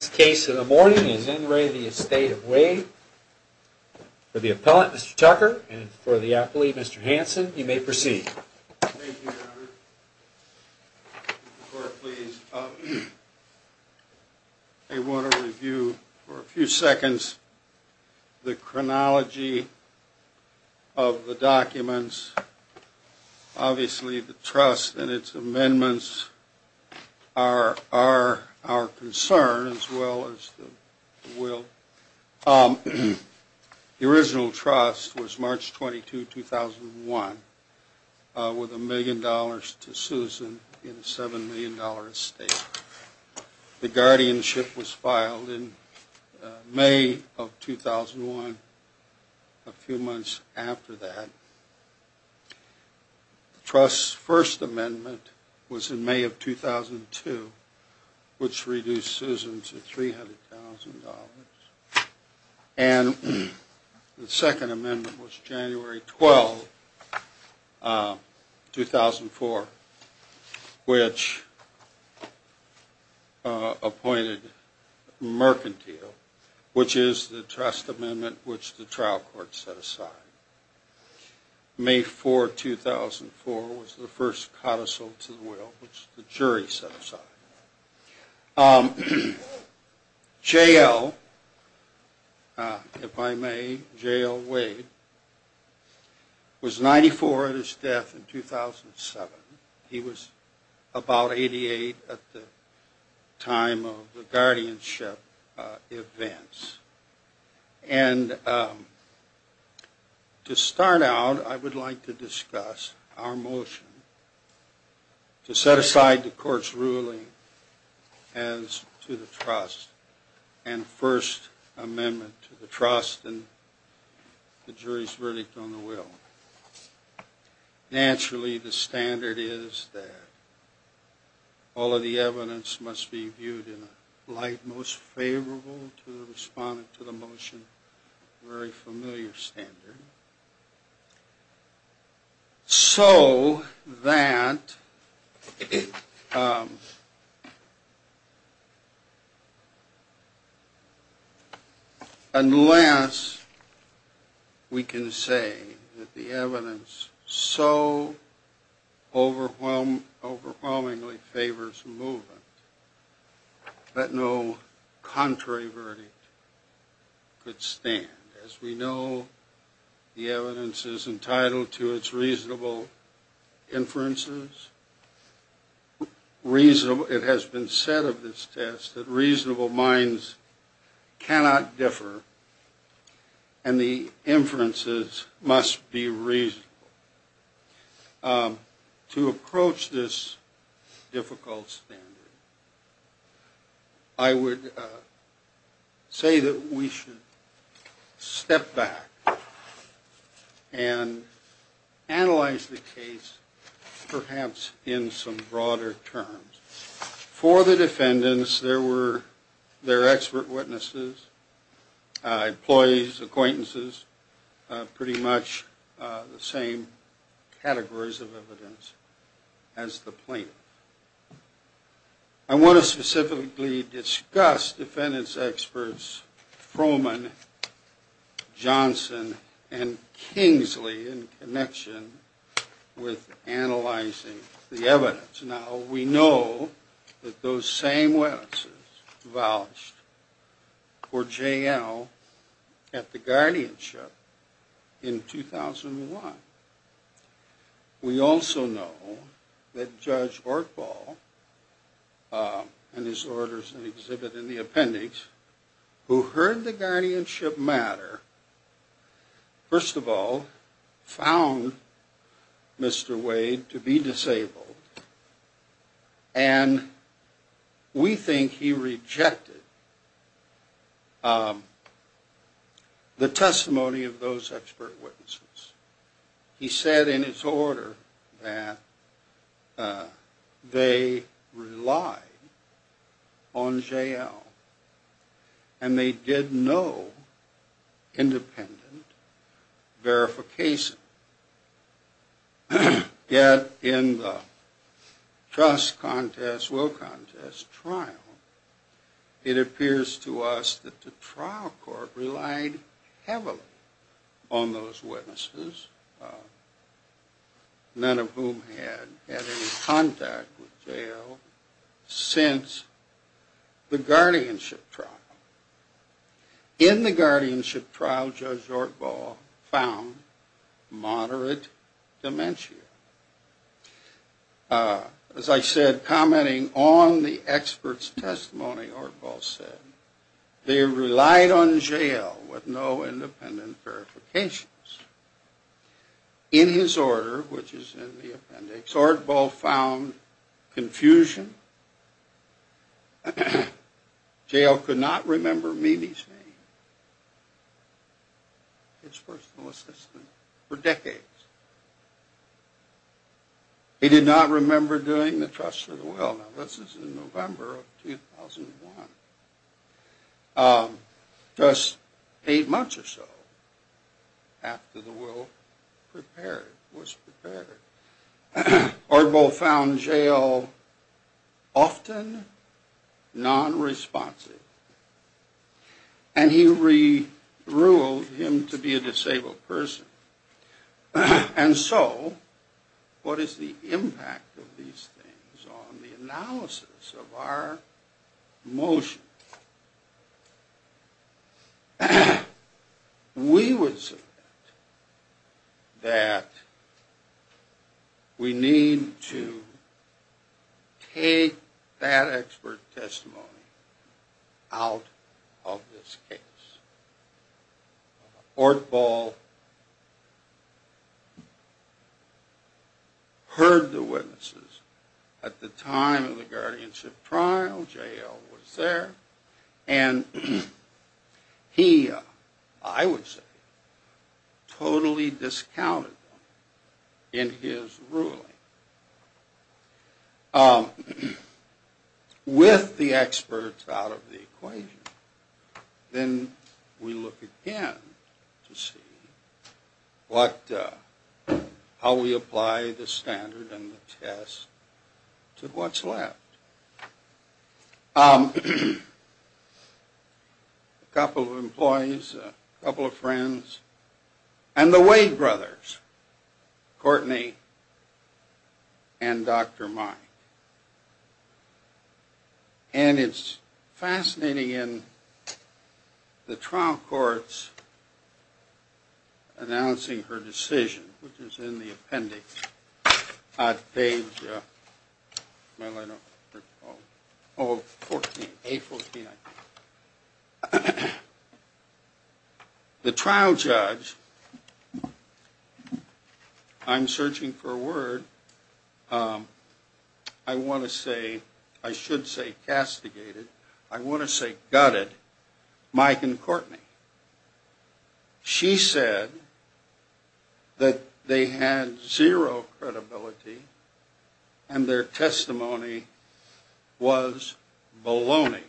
This case of the morning is N. Ray v. Estate of Wade. For the appellant, Mr. Tucker, and for the appellee, Mr. Hanson, you may proceed. Thank you, Your Honor. Court, please. I want to review for a few seconds the chronology of the documents. Obviously, the trust and its amendments are our concern, as well as the will. The original trust was March 22, 2001, with a million dollars to Susan in a $7 million estate. The guardianship was filed in May of 2001, a few months after that. The trust's first amendment was in May of 2002, which reduced Susan to $300,000. And the second amendment was January 12, 2004, which appointed Mercantile, which is the trust amendment which the trial court set aside. May 4, 2004 was the first codicil to the will, which the jury set aside. J. L., if I may, J. L. Wade, was 94 at his death in 2007. He was about 88 at the time of the guardianship, events. And to start out, I would like to discuss our motion to set aside the court's ruling as to the trust and first amendment to the trust and the jury's verdict on the will. Naturally, the standard is that all of the evidence must be viewed in a light most favorable to the respondent to the motion, a very familiar standard, so that unless we can say that the evidence so overwhelmingly favors movement, that no contrary verdict could stand. As we know, the evidence is entitled to its reasonable inferences. It has been said of this test that reasonable minds cannot differ, and the inferences must be reasonable. So to approach this difficult standard, I would say that we should step back and analyze the case perhaps in some broader terms. For the defendants, there were their expert witnesses, employees, acquaintances, pretty much the same categories of evidence as the plaintiff. I want to specifically discuss defendants experts Froman, Johnson, and Kingsley in connection with analyzing the evidence. Now, we know that those same witnesses vouched for J.L. at the guardianship in 2001. We also know that Judge Ortbaugh, in his orders and exhibit in the appendix, who heard the guardianship matter, first of all, found Mr. Wade to be disabled. And we think he rejected the testimony of those expert witnesses. He said in his order that they relied on J.L. And they did no independent verification. Yet in the trust contest, will contest trial, it appears to us that the trial court relied heavily on those witnesses, none of whom had had any contact with J.L. since the guardianship trial. In the guardianship trial, Judge Ortbaugh found moderate dementia. As I said, commenting on the expert's testimony, Ortbaugh said, they relied on J.L. with no independent verifications. In his order, which is in the appendix, Judge Ortbaugh found confusion. J.L. could not remember Mimi's name, his personal assistant, for decades. He did not remember doing the trust for the will. Now, this is in November of 2001, just eight months or so after the will prepared, was prepared. Ortbaugh found J.L. often non-responsive. And he re-ruled him to be a disabled person. And so, what is the impact of these things on the analysis of our motion? We would submit that we need to take that expert testimony out of this case. Ortbaugh heard the witnesses at the time of the guardianship trial. J.L. was there. And he, I would say, totally discounted them in his ruling. With the experts out of the equation, then we look again to see how we apply the standard and the test to what's left. A couple of employees, a couple of friends, and the Wade brothers, Courtney and Dr. Mike. And it's fascinating in the trial courts announcing her decision, which is in the appendix, on page A-14, I think. The trial judge, I'm searching for a word, I want to say, I should say castigated, I want to say gutted, Mike and Courtney. She said that they had zero credibility and their testimony was baloney.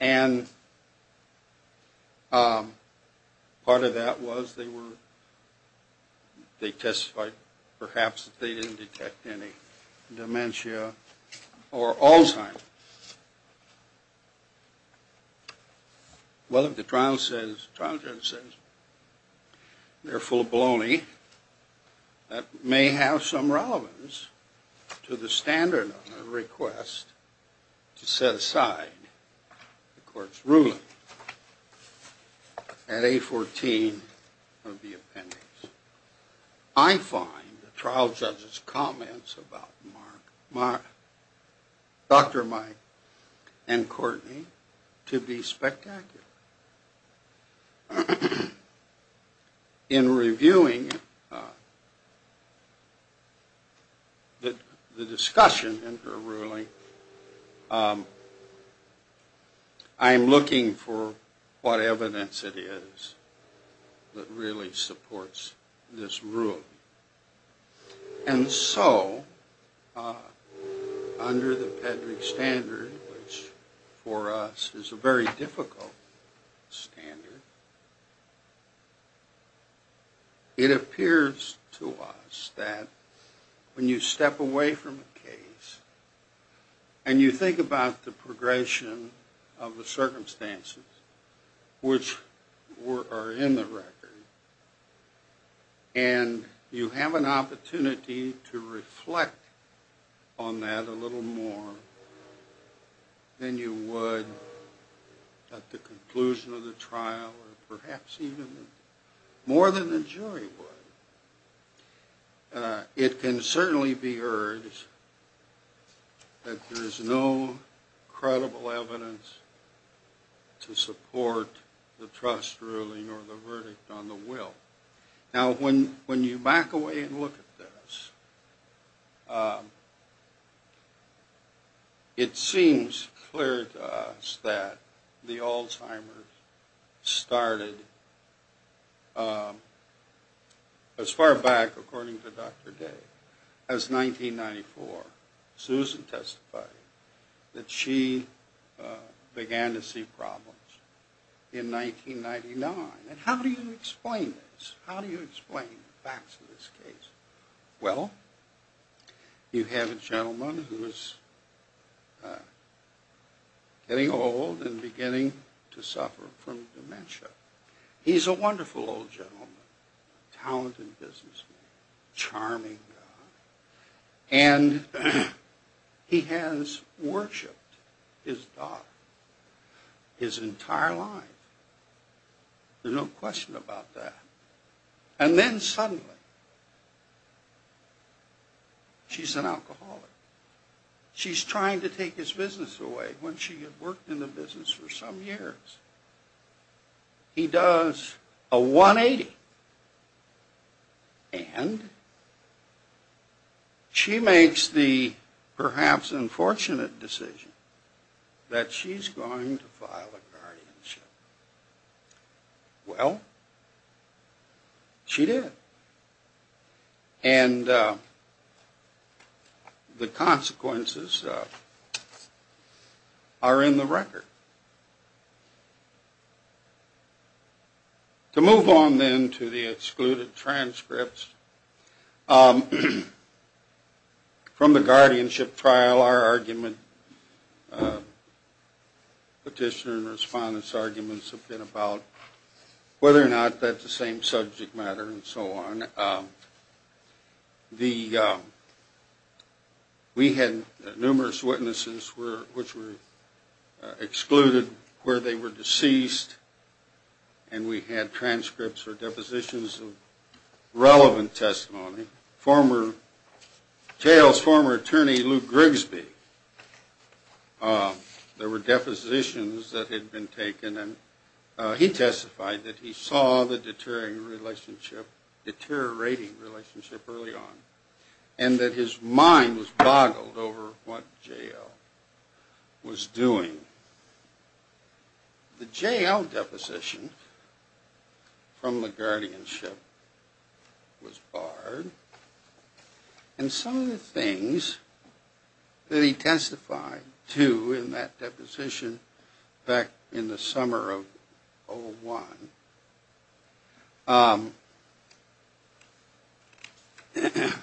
And part of that was they testified, perhaps, that they didn't detect any dementia or Alzheimer's. Well, if the trial judge says they're full of baloney, that may have some relevance to the standard on the request to set aside the court's ruling at A-14 of the appendix. I find the trial judge's comments about Dr. Mike and Courtney to be spectacular. In reviewing the discussion in her ruling, I'm looking for what evidence it is that really supports this ruling. And so, under the Pedrick standard, which for us is a very difficult standard, it appears to us that when you step away from a case and you think about the progression of the circumstances, which are in the record, and you have an opportunity to reflect on that a little more than you would at the conclusion of the trial, or perhaps even more than the jury would, it can certainly be heard that there is no credible evidence to support the trust ruling or the verdict on the will. Now, when you back away and look at this, it seems clear to us that the Alzheimer's started as far back, according to Dr. Day, as 1994. Susan testified that she began to see problems in 1999. And how do you explain this? How do you explain the facts of this case? Well, you have a gentleman who is getting old and beginning to suffer from dementia. He's a wonderful old gentleman, talented businessman, charming guy, and he has worshipped his daughter his entire life. There's no question about that. And then suddenly, she's an alcoholic. She's trying to take his business away. When she had worked in the business for some years, he does a 180. And she makes the perhaps unfortunate decision that she's going to file a guardianship. Well, she did. And the consequences are in the record. To move on then to the excluded transcripts, from the guardianship trial, our argument, petitioner and respondent's arguments have been about whether or not that's the same subject matter and so on. We had numerous witnesses which were excluded where they were deceased. And we had transcripts or depositions of relevant testimony. Jail's former attorney, Luke Grigsby, there were depositions that had been taken. He testified that he saw the deteriorating relationship early on. And that his mind was boggled over what Jail was doing. The Jail deposition from the guardianship was barred. And some of the things that he testified to in that deposition back in the summer of 01,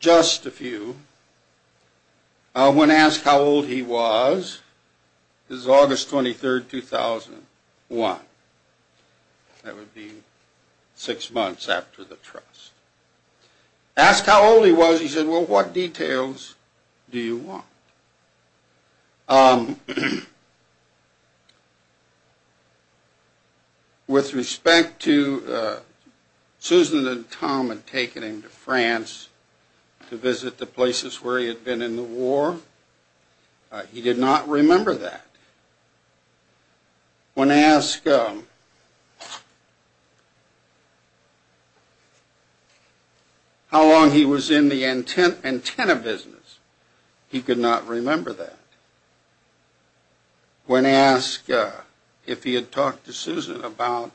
just a few. When asked how old he was, this is August 23, 2001. That would be six months after the trust. Asked how old he was, he said, well, what details do you want? With respect to Susan and Tom had taken him to France to visit the places where he had been in the war, he did not remember that. When asked how long he was in the antenna business, he could not remember that. When asked if he had talked to Susan about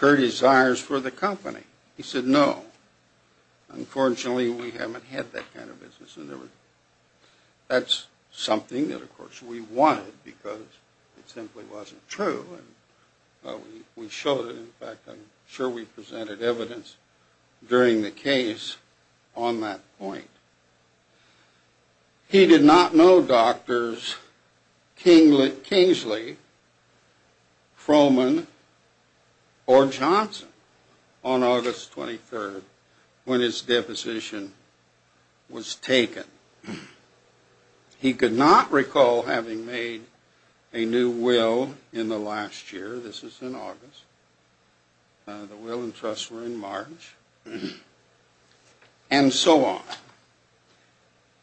her desires for the company, he said, no. Unfortunately, we haven't had that kind of business. And that's something that, of course, we wanted because it simply wasn't true. And we showed it. In fact, I'm sure we presented evidence during the case on that point. He did not know doctors Kingsley, Froman, or Johnson on August 23 when his deposition was taken. He could not recall having made a new will in the last year. This is in August. The will and trust were in March, and so on.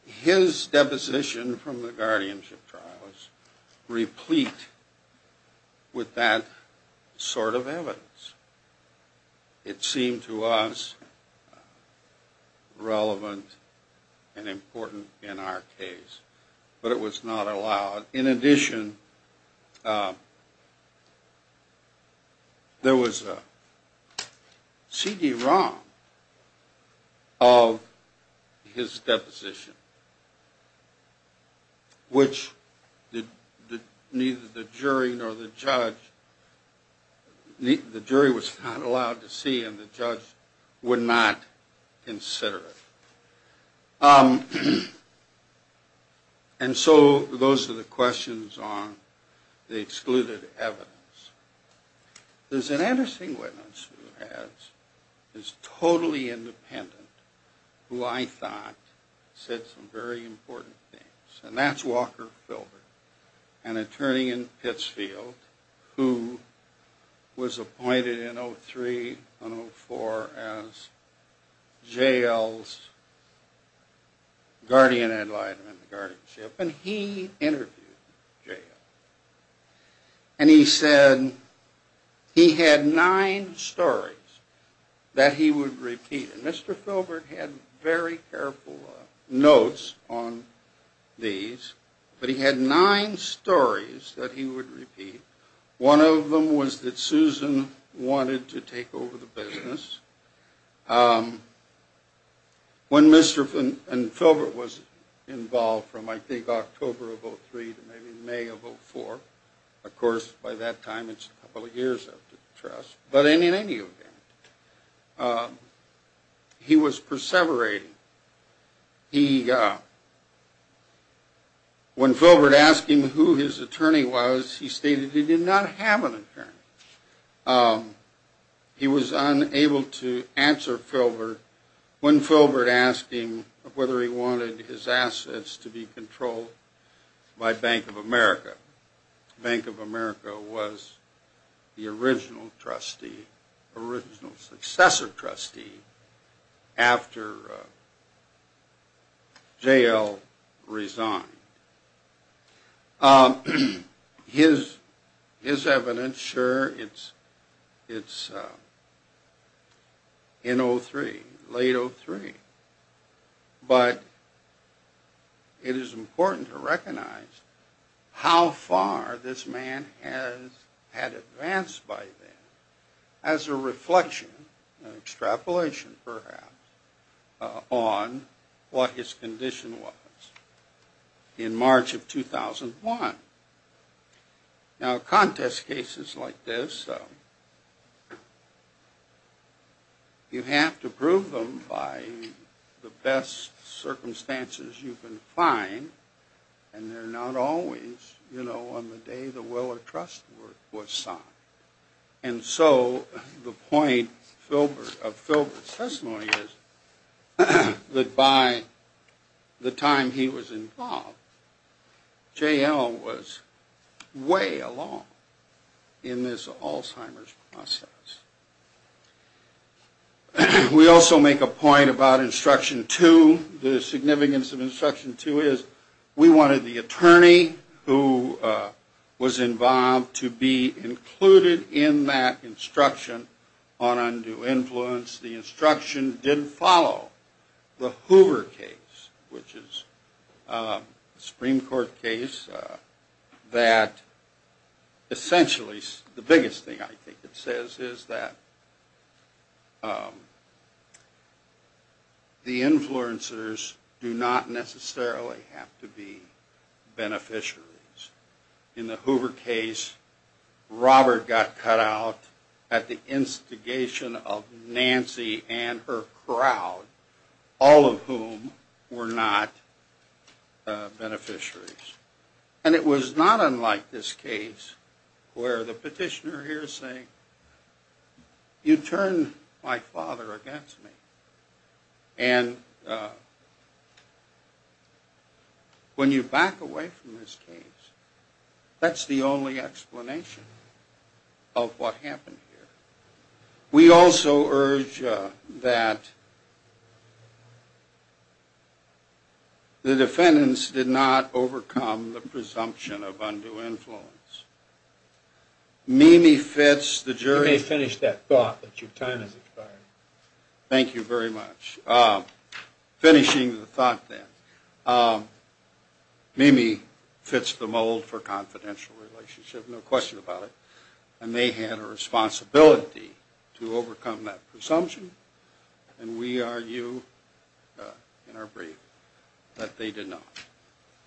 His deposition from the guardianship trial replete with that sort of evidence. It seemed to us relevant and important in our case, but it was not allowed. In addition, there was a CD-ROM of his deposition, which neither the jury nor the judge, the jury was not allowed to see, and the judge would not consider it. And so those are the questions on the excluded evidence. There's an interesting witness who has, is totally independent, who I thought said some very important things. And that's Walker Philbert, an attorney in Pittsfield who was appointed in 03 and 04 as J.L.'s guardian ad litem in the guardianship. And he interviewed J.L. And he said he had nine stories that he would repeat. And Mr. Philbert had very careful notes on these, but he had nine stories that he would repeat. One of them was that Susan wanted to take over the business. When Mr. Philbert was involved from I think October of 03 to maybe May of 04, of course by that time it's a couple of years after the trust, but in any event, he was perseverating. He, when Philbert asked him who his attorney was, he stated he did not have an attorney. He was unable to answer Philbert when Philbert asked him whether he wanted his assets to be controlled by Bank of America. Bank of America was the original trustee, original successor trustee after J.L. resigned. His evidence, sure, it's in 03, late 03. But it is important to recognize how far this man had advanced by then as a reflection, an extrapolation perhaps, on what his condition was in March of 2001. Now contest cases like this, you have to prove them by the best circumstances you can find, and they're not always, you know, on the day the will of trust was signed. And so the point of Philbert's testimony is that by the time he was involved, J.L. was way along in this Alzheimer's process. We also make a point about instruction two. The significance of instruction two is we wanted the attorney who was involved to be included in that instruction on undue influence. The instruction didn't follow the Hoover case, which is a Supreme Court case that essentially, the biggest thing I think it says is that the influencers do not necessarily have to be beneficiaries. In the Hoover case, Robert got cut out at the instigation of Nancy and her crowd, all of whom were not beneficiaries. And it was not unlike this case where the petitioner here is saying, you turned my father against me. And when you back away from this case, that's the only explanation of what happened here. We also urge that the defendants did not overcome the presumption of undue influence. Mimi Fitz, the jury... Let me finish that thought that your time has expired. Thank you very much. Finishing the thought then, Mimi fits the mold for confidential relationship, no question about it. And they had a responsibility to overcome that presumption, and we argue in our brief that they did not.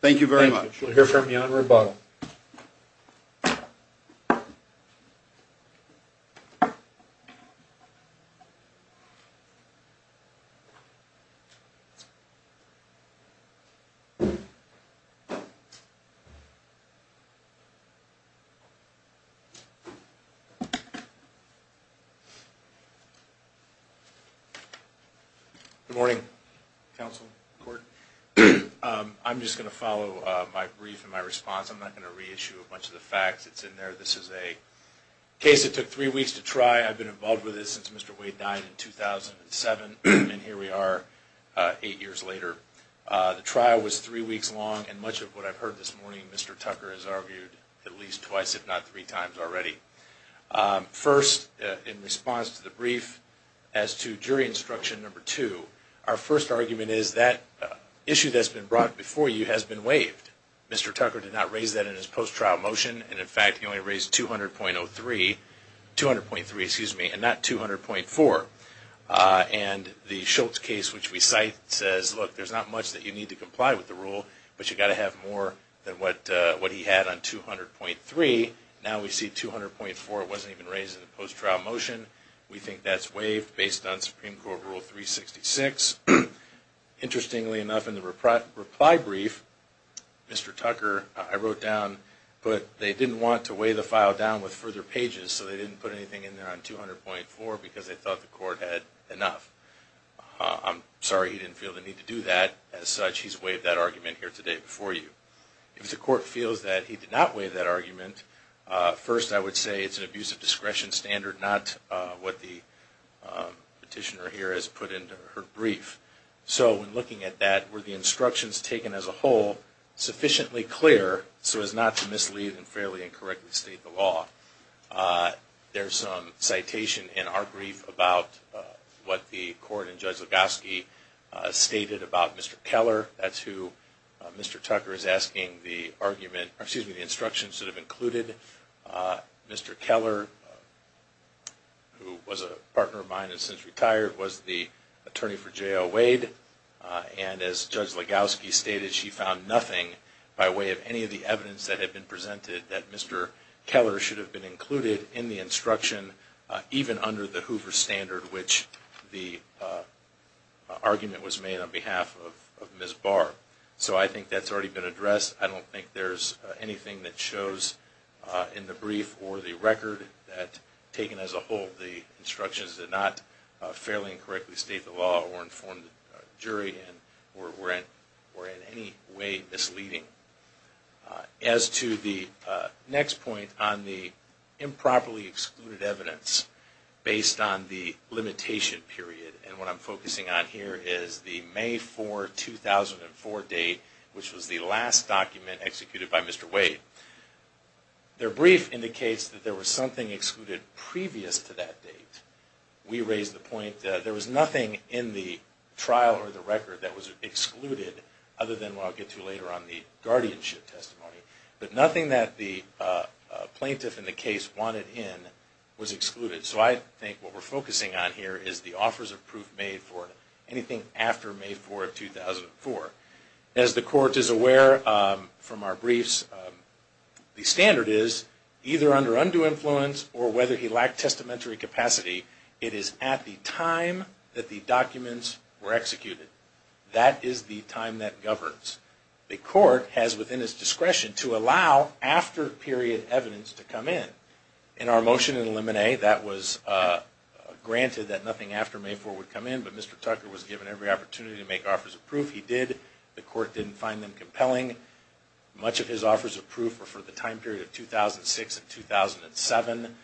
Thank you very much. We'll hear from you on rebuttal. Thank you. Good morning, counsel, court. I'm just going to follow my brief and my response. I'm not going to reissue a bunch of the facts. It's in there. This is a case that took three weeks to try. I've been involved with it since Mr. Wade died in 2007, and here we are eight years later. The trial was three weeks long, and much of what I've heard this morning Mr. Tucker has argued at least twice, if not three times already. First, in response to the brief, as to jury instruction number two, our first argument is that issue that's been brought before you has been waived. Mr. Tucker did not raise that in his post-trial motion, and, in fact, he only raised 200.03, 200.3, excuse me, and not 200.4. And the Schultz case, which we cite, says, look, there's not much that you need to comply with the rule, but you've got to have more than what he had on 200.3. Now we see 200.4 wasn't even raised in the post-trial motion. We think that's waived based on Supreme Court Rule 366. Interestingly enough, in the reply brief, Mr. Tucker, I wrote down, but they didn't want to weigh the file down with further pages, so they didn't put anything in there on 200.4 because they thought the court had enough. I'm sorry he didn't feel the need to do that. As such, he's waived that argument here today before you. If the court feels that he did not waive that argument, first I would say it's an abuse of discretion standard, not what the petitioner here has put into her brief. So in looking at that, were the instructions taken as a whole sufficiently clear so as not to mislead and fairly incorrectly state the law? There's some citation in our brief about what the court and Judge Legowski stated about Mr. Keller. That's who Mr. Tucker is asking the instructions that have included. Mr. Keller, who was a partner of mine and has since retired, was the attorney for J.L. Wade. And as Judge Legowski stated, she found nothing by way of any of the evidence that had been presented that Mr. Keller should have been included in the instruction, even under the Hoover standard, which the argument was made on behalf of Ms. Barr. So I think that's already been addressed. I don't think there's anything that shows in the brief or the record that, taken as a whole, the instructions did not fairly and correctly state the law or inform the jury and were in any way misleading. As to the next point on the improperly excluded evidence based on the limitation period, and what I'm focusing on here is the May 4, 2004 date, which was the last document executed by Mr. Wade. Their brief indicates that there was something excluded previous to that date. We raised the point that there was nothing in the trial or the record that was excluded, other than what I'll get to later on the guardianship testimony. But nothing that the plaintiff in the case wanted in was excluded. So I think what we're focusing on here is the offers of proof made for anything after May 4, 2004. As the Court is aware from our briefs, the standard is, either under undue influence or whether he lacked testamentary capacity, it is at the time that the documents were executed. That is the time that governs. The Court has within its discretion to allow after-period evidence to come in. In our motion in Limine, that was granted that nothing after May 4 would come in, but Mr. Tucker was given every opportunity to make offers of proof. He did. The Court didn't find them compelling. Much of his offers of proof were for the time period of 2006 and 2007.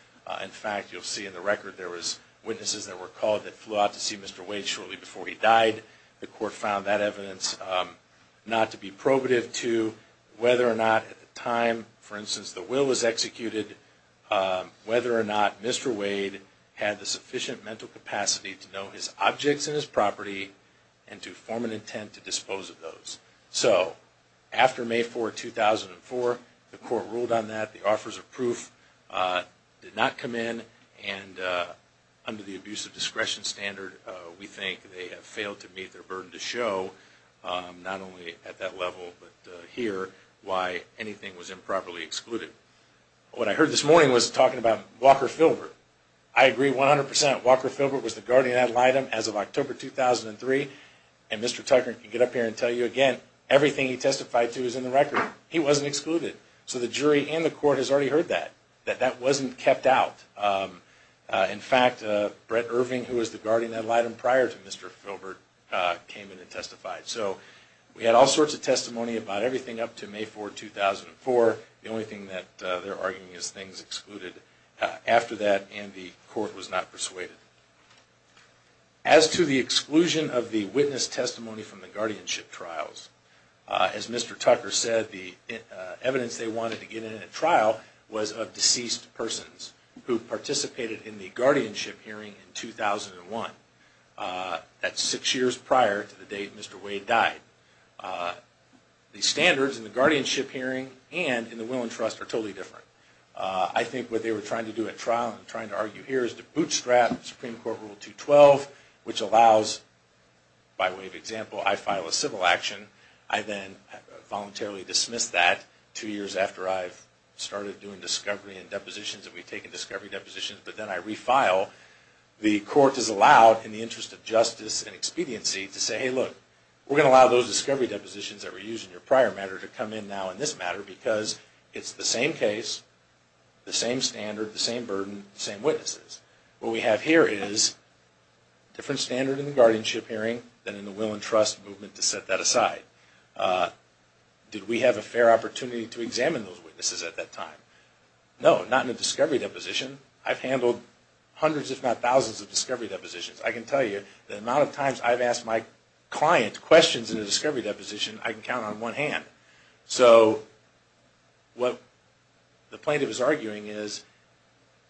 In fact, you'll see in the record there were witnesses that were called that flew out to see Mr. Wade shortly before he died. The Court found that evidence not to be probative to whether or not at the time, for instance, the will was executed, whether or not Mr. Wade had the sufficient mental capacity to know his objects and his property and to form an intent to dispose of those. So, after May 4, 2004, the Court ruled on that. The offers of proof did not come in, and under the abuse of discretion standard, we think they have failed to meet their burden to show, not only at that level, but here, why anything was improperly excluded. What I heard this morning was talking about Walker Filbert. I agree 100%. Walker Filbert was the guardian ad litem as of October 2003, and Mr. Tucker can get up here and tell you again, everything he testified to is in the record. He wasn't excluded. So the jury and the Court has already heard that, that that wasn't kept out. In fact, Brett Irving, who was the guardian ad litem prior to Mr. Filbert, came in and testified. So, we had all sorts of testimony about everything up to May 4, 2004. The only thing that they're arguing is things excluded. After that, the Court was not persuaded. As to the exclusion of the witness testimony from the guardianship trials, as Mr. Tucker said, the evidence they wanted to get in a trial was of deceased persons who participated in the guardianship hearing in 2001. That's six years prior to the date Mr. Wade died. The standards in the guardianship hearing and in the Will and Trust are totally different. I think what they were trying to do at trial, and trying to argue here, is to bootstrap Supreme Court Rule 212, which allows, by way of example, I file a civil action. I then voluntarily dismiss that two years after I've started doing discovery and depositions, and we've taken discovery depositions, but then I refile. The Court is allowed, in the interest of justice and expediency, to say, hey look, we're going to allow those discovery depositions that were used in your prior matter to come in now in this matter because it's the same case, the same standard, the same burden, the same witnesses. What we have here is a different standard in the guardianship hearing than in the Will and Trust movement to set that aside. Did we have a fair opportunity to examine those witnesses at that time? No, not in a discovery deposition. I've handled hundreds, if not thousands, of discovery depositions. I can tell you the amount of times I've asked my client questions in a discovery deposition, I can count on one hand. So what the plaintiff is arguing is,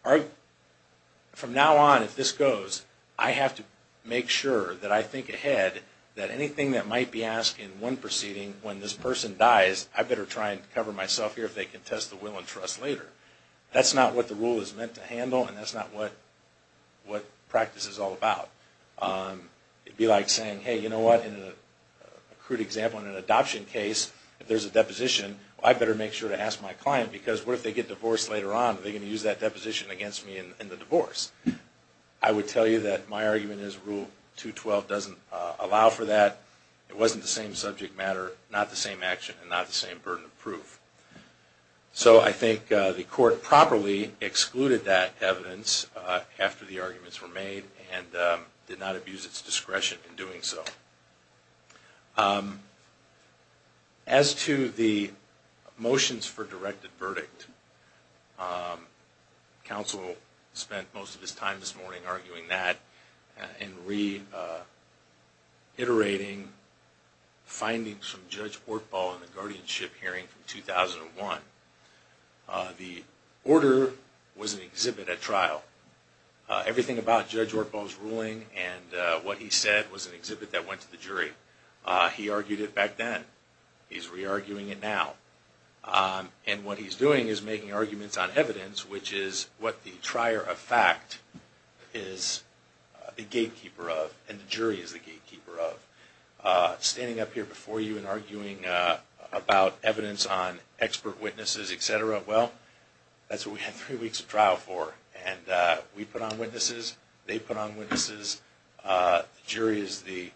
from now on, if this goes, I have to make sure that I think ahead that anything that might be asked in one proceeding, when this person dies, I better try and cover myself here if they contest the Will and Trust later. That's not what the rule is meant to handle, and that's not what practice is all about. It would be like saying, hey, you know what? In a crude example, in an adoption case, if there's a deposition, I better make sure to ask my client because what if they get divorced later on? Are they going to use that deposition against me in the divorce? I would tell you that my argument is Rule 212 doesn't allow for that. It wasn't the same subject matter, not the same action, and not the same burden of proof. So I think the court properly excluded that evidence after the arguments were made, and did not abuse its discretion in doing so. As to the motions for directed verdict, counsel spent most of his time this morning arguing that and reiterating findings from Judge Ortbaugh in the guardianship hearing from 2001. The order was an exhibit at trial. Everything about Judge Ortbaugh's ruling and what he said was an exhibit that went to the jury. He argued it back then. He's re-arguing it now. And what he's doing is making arguments on evidence, which is what the trier of fact is the gatekeeper of, and the jury is the gatekeeper of. Standing up here before you and arguing about evidence on expert witnesses, etc., well, that's what we had three weeks of trial for. And we put on witnesses. They put on witnesses. The jury is the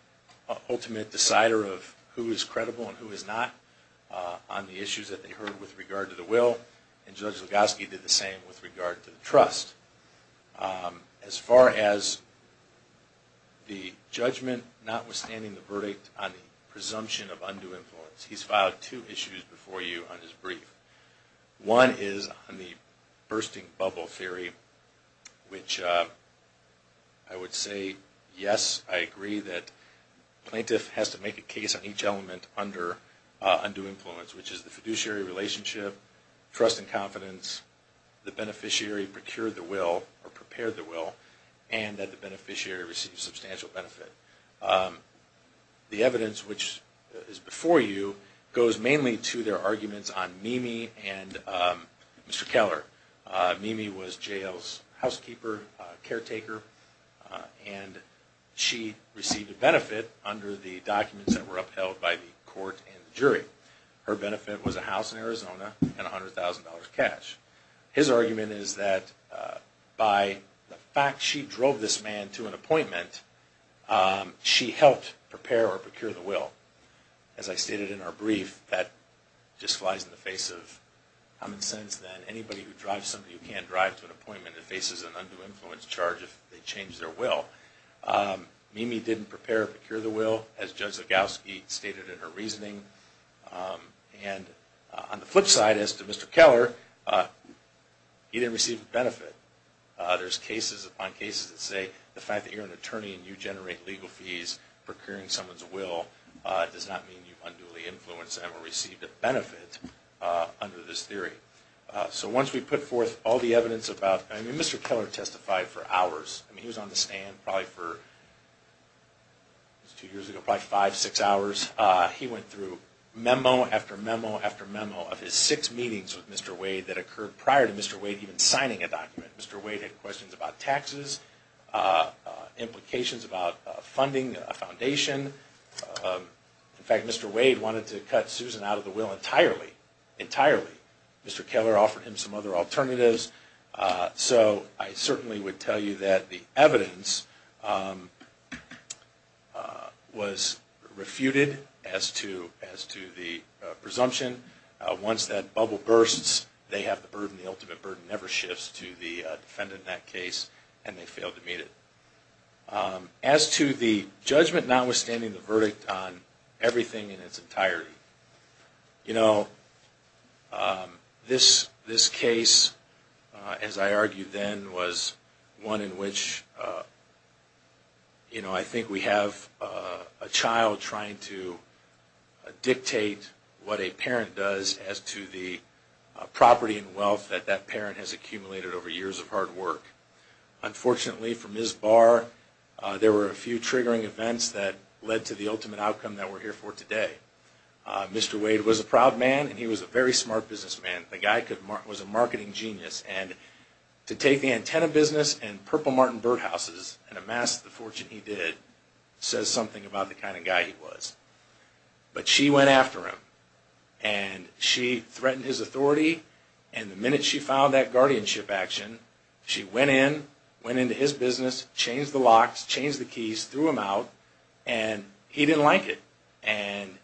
ultimate decider of who is credible and who is not on the issues that they heard with regard to the will. And Judge Lugoski did the same with regard to the trust. As far as the judgment notwithstanding the verdict on the presumption of undue influence, he's filed two issues before you on his brief. One is on the bursting bubble theory, which I would say, yes, I agree that the plaintiff has to make a case on each element under undue influence, which is the fiduciary relationship, trust and confidence, the beneficiary procured the will or prepared the will, and that the beneficiary received substantial benefit. The evidence which is before you goes mainly to their arguments on Mimi and Mr. Keller. Mimi was jail's housekeeper, caretaker, and she received a benefit under the documents that were upheld by the court and the jury. Her benefit was a house in Arizona and $100,000 cash. His argument is that by the fact she drove this man to an appointment, she helped prepare or procure the will. As I stated in our brief, that just flies in the face of common sense, that anybody who drives somebody who can't drive to an appointment faces an undue influence charge if they change their will. Mimi didn't prepare or procure the will, as Judge Lugoski stated in her reasoning. On the flip side, as to Mr. Keller, he didn't receive a benefit. There's cases upon cases that say the fact that you're an attorney and you generate legal fees procuring someone's will does not mean you've unduly influenced them or received a benefit under this theory. So once we put forth all the evidence about... I mean, Mr. Keller testified for hours. I mean, he was on the stand probably for, two years ago, probably five, six hours. He went through memo after memo after memo of his six meetings with Mr. Wade that occurred prior to Mr. Wade even signing a document. Mr. Wade had questions about taxes, implications about funding a foundation. In fact, Mr. Wade wanted to cut Susan out of the will entirely, entirely. Mr. Keller offered him some other alternatives. So I certainly would tell you that the evidence was refuted as to the presumption. Once that bubble bursts, they have the burden. The ultimate burden never shifts to the defendant in that case, and they fail to meet it. As to the judgment notwithstanding the verdict on everything in its entirety, you know, this case, as I argued then, was one in which, you know, I think we have a child trying to dictate what a parent does as to the property and wealth that that parent has accumulated over years of hard work. Unfortunately for Ms. Barr, there were a few triggering events that led to the ultimate outcome that we're here for today. Mr. Wade was a proud man, and he was a very smart businessman. The guy was a marketing genius, and to take the antenna business and Purple Martin birdhouses and amass the fortune he did says something about the kind of guy he was. But she went after him, and she threatened his authority, and the minute she found that guardianship action, she went in, went into his business, changed the locks, changed the keys, threw him out, and he didn't like it. And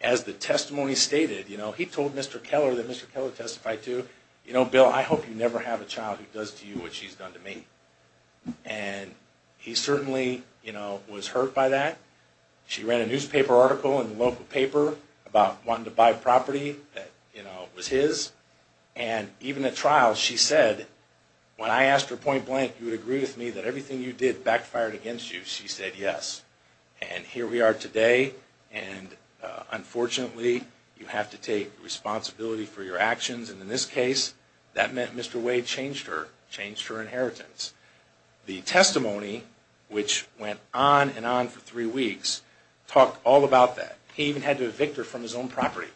as the testimony stated, you know, he told Mr. Keller that Mr. Keller testified to, you know, Bill, I hope you never have a child who does to you what she's done to me. And he certainly, you know, was hurt by that. She ran a newspaper article in the local paper about wanting to buy property that, you know, was his. And even at trial, she said, when I asked her point blank, you would agree with me that everything you did backfired against you? She said yes. And here we are today, and unfortunately, you have to take responsibility for your actions. And in this case, that meant Mr. Wade changed her, changed her inheritance. The testimony, which went on and on for three weeks, talked all about that. He even had to evict her from his own property.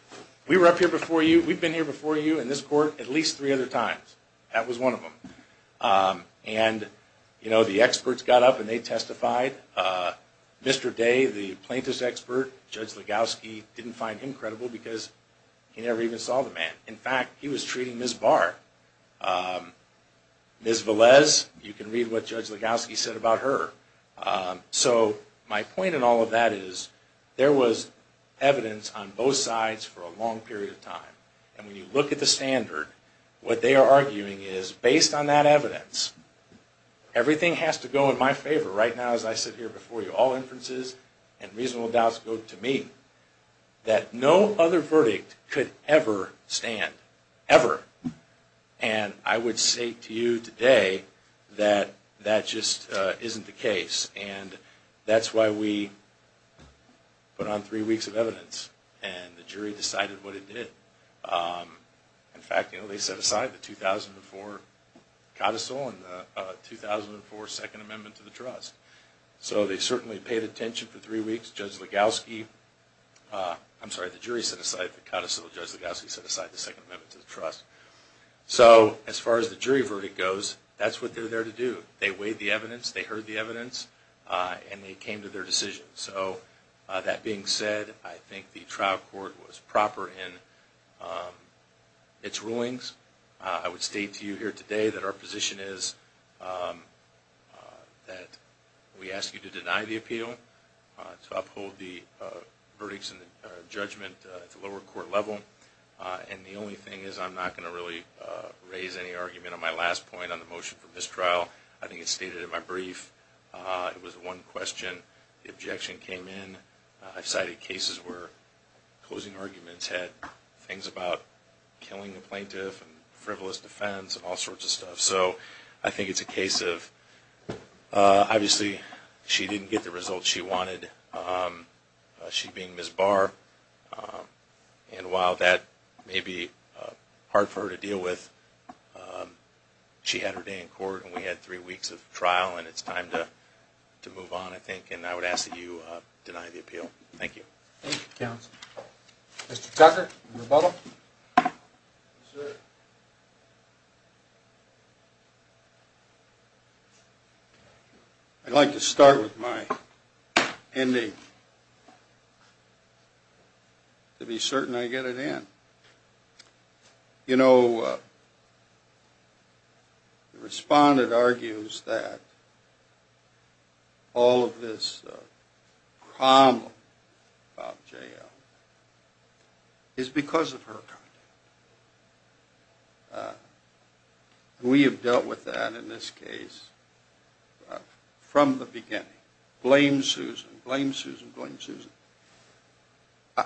We were up here before you, we've been here before you in this court at least three other times. That was one of them. And, you know, the experts got up and they testified. Mr. Day, the plaintiff's expert, Judge Legowski didn't find him credible because he never even saw the man. In fact, he was treating Ms. Barr. Ms. Velez, you can read what Judge Legowski said about her. So my point in all of that is there was evidence on both sides for a long period of time. And when you look at the standard, what they are arguing is, based on that evidence, everything has to go in my favor right now as I sit here before you, all inferences and reasonable doubts go to me, that no other verdict could ever stand, ever. And I would say to you today that that just isn't the case. And that's why we put on three weeks of evidence and the jury decided what it did. In fact, you know, they set aside the 2004 codicil and the 2004 Second Amendment to the Trust. So they certainly paid attention for three weeks. Judge Legowski, I'm sorry, the jury set aside the codicil. Judge Legowski set aside the Second Amendment to the Trust. So as far as the jury verdict goes, that's what they're there to do. They weighed the evidence, they heard the evidence, and they came to their decision. So that being said, I think the trial court was proper in its rulings. I would state to you here today that our position is that we ask you to deny the appeal, to uphold the verdicts and the judgment at the lower court level. And the only thing is I'm not going to really raise any argument on my last point on the motion for mistrial. I think it's stated in my brief. It was one question. The objection came in. I've cited cases where closing arguments had things about killing the plaintiff and frivolous defense and all sorts of stuff. So I think it's a case of, obviously, she didn't get the results she wanted. She being Ms. Barr. And while that may be hard for her to deal with, she had her day in court and we had three weeks of trial, and it's time to move on, I think. And I would ask that you deny the appeal. Thank you. Thank you, counsel. Mr. Tucker, your rebuttal. Yes, sir. Thank you. I'd like to start with my ending, to be certain I get it in. You know, the respondent argues that all of this problem about jail is because of her conduct. We have dealt with that in this case from the beginning. Blame Susan. Blame Susan. Blame Susan.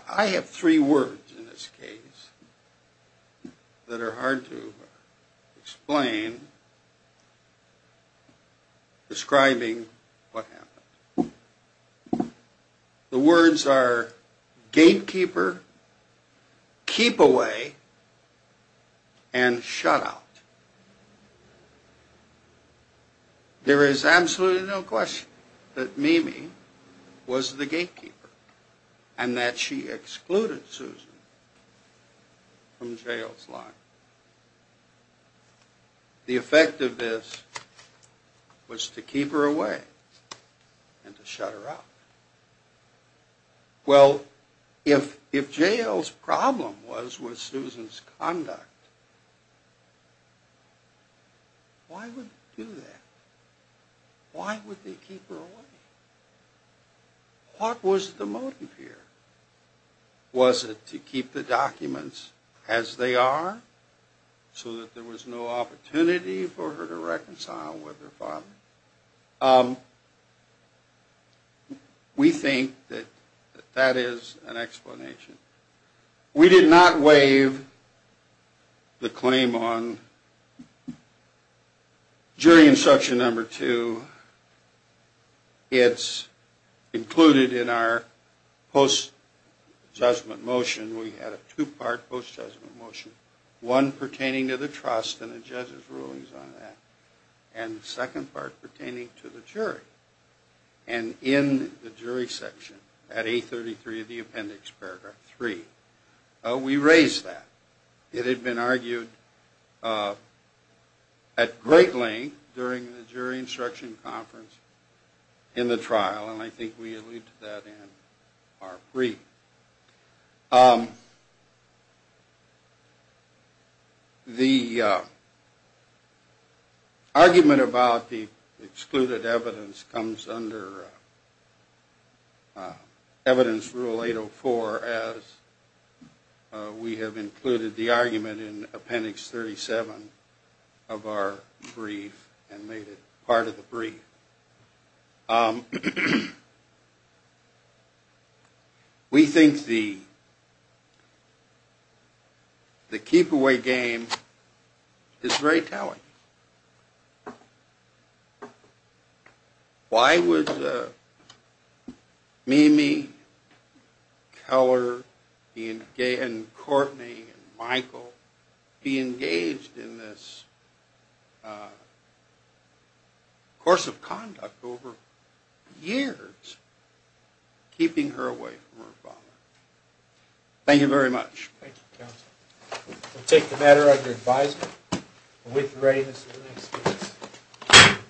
I have three words in this case that are hard to explain describing what happened. The words are gatekeeper, keep away, and shut out. There is absolutely no question that Mimi was the gatekeeper and that she excluded Susan from jail's line. The effect of this was to keep her away and to shut her out. Well, if jail's problem was with Susan's conduct, why would they do that? Why would they keep her away? What was the motive here? Was it to keep the documents as they are so that there was no opportunity for her to reconcile with her father? We think that that is an explanation. We did not waive the claim on jury instruction number two. It's included in our post-judgment motion. We had a two-part post-judgment motion, one pertaining to the trust and the judge's rulings on that, and the second part pertaining to the jury. And in the jury section at 833 of the appendix, paragraph three, we raised that. It had been argued at great length during the jury instruction conference in the trial, and I think we alluded to that in our brief. The argument about the excluded evidence comes under Evidence Rule 804, as we have included the argument in Appendix 37 of our brief and made it part of the brief. We think the keep-away game is very telling. Why would Mimi Keller and Courtney and Michael be engaged in this course of conduct over years, keeping her away from her father? Thank you very much. Thank you, counsel. We'll take the matter under advisement. With readiness for the next case.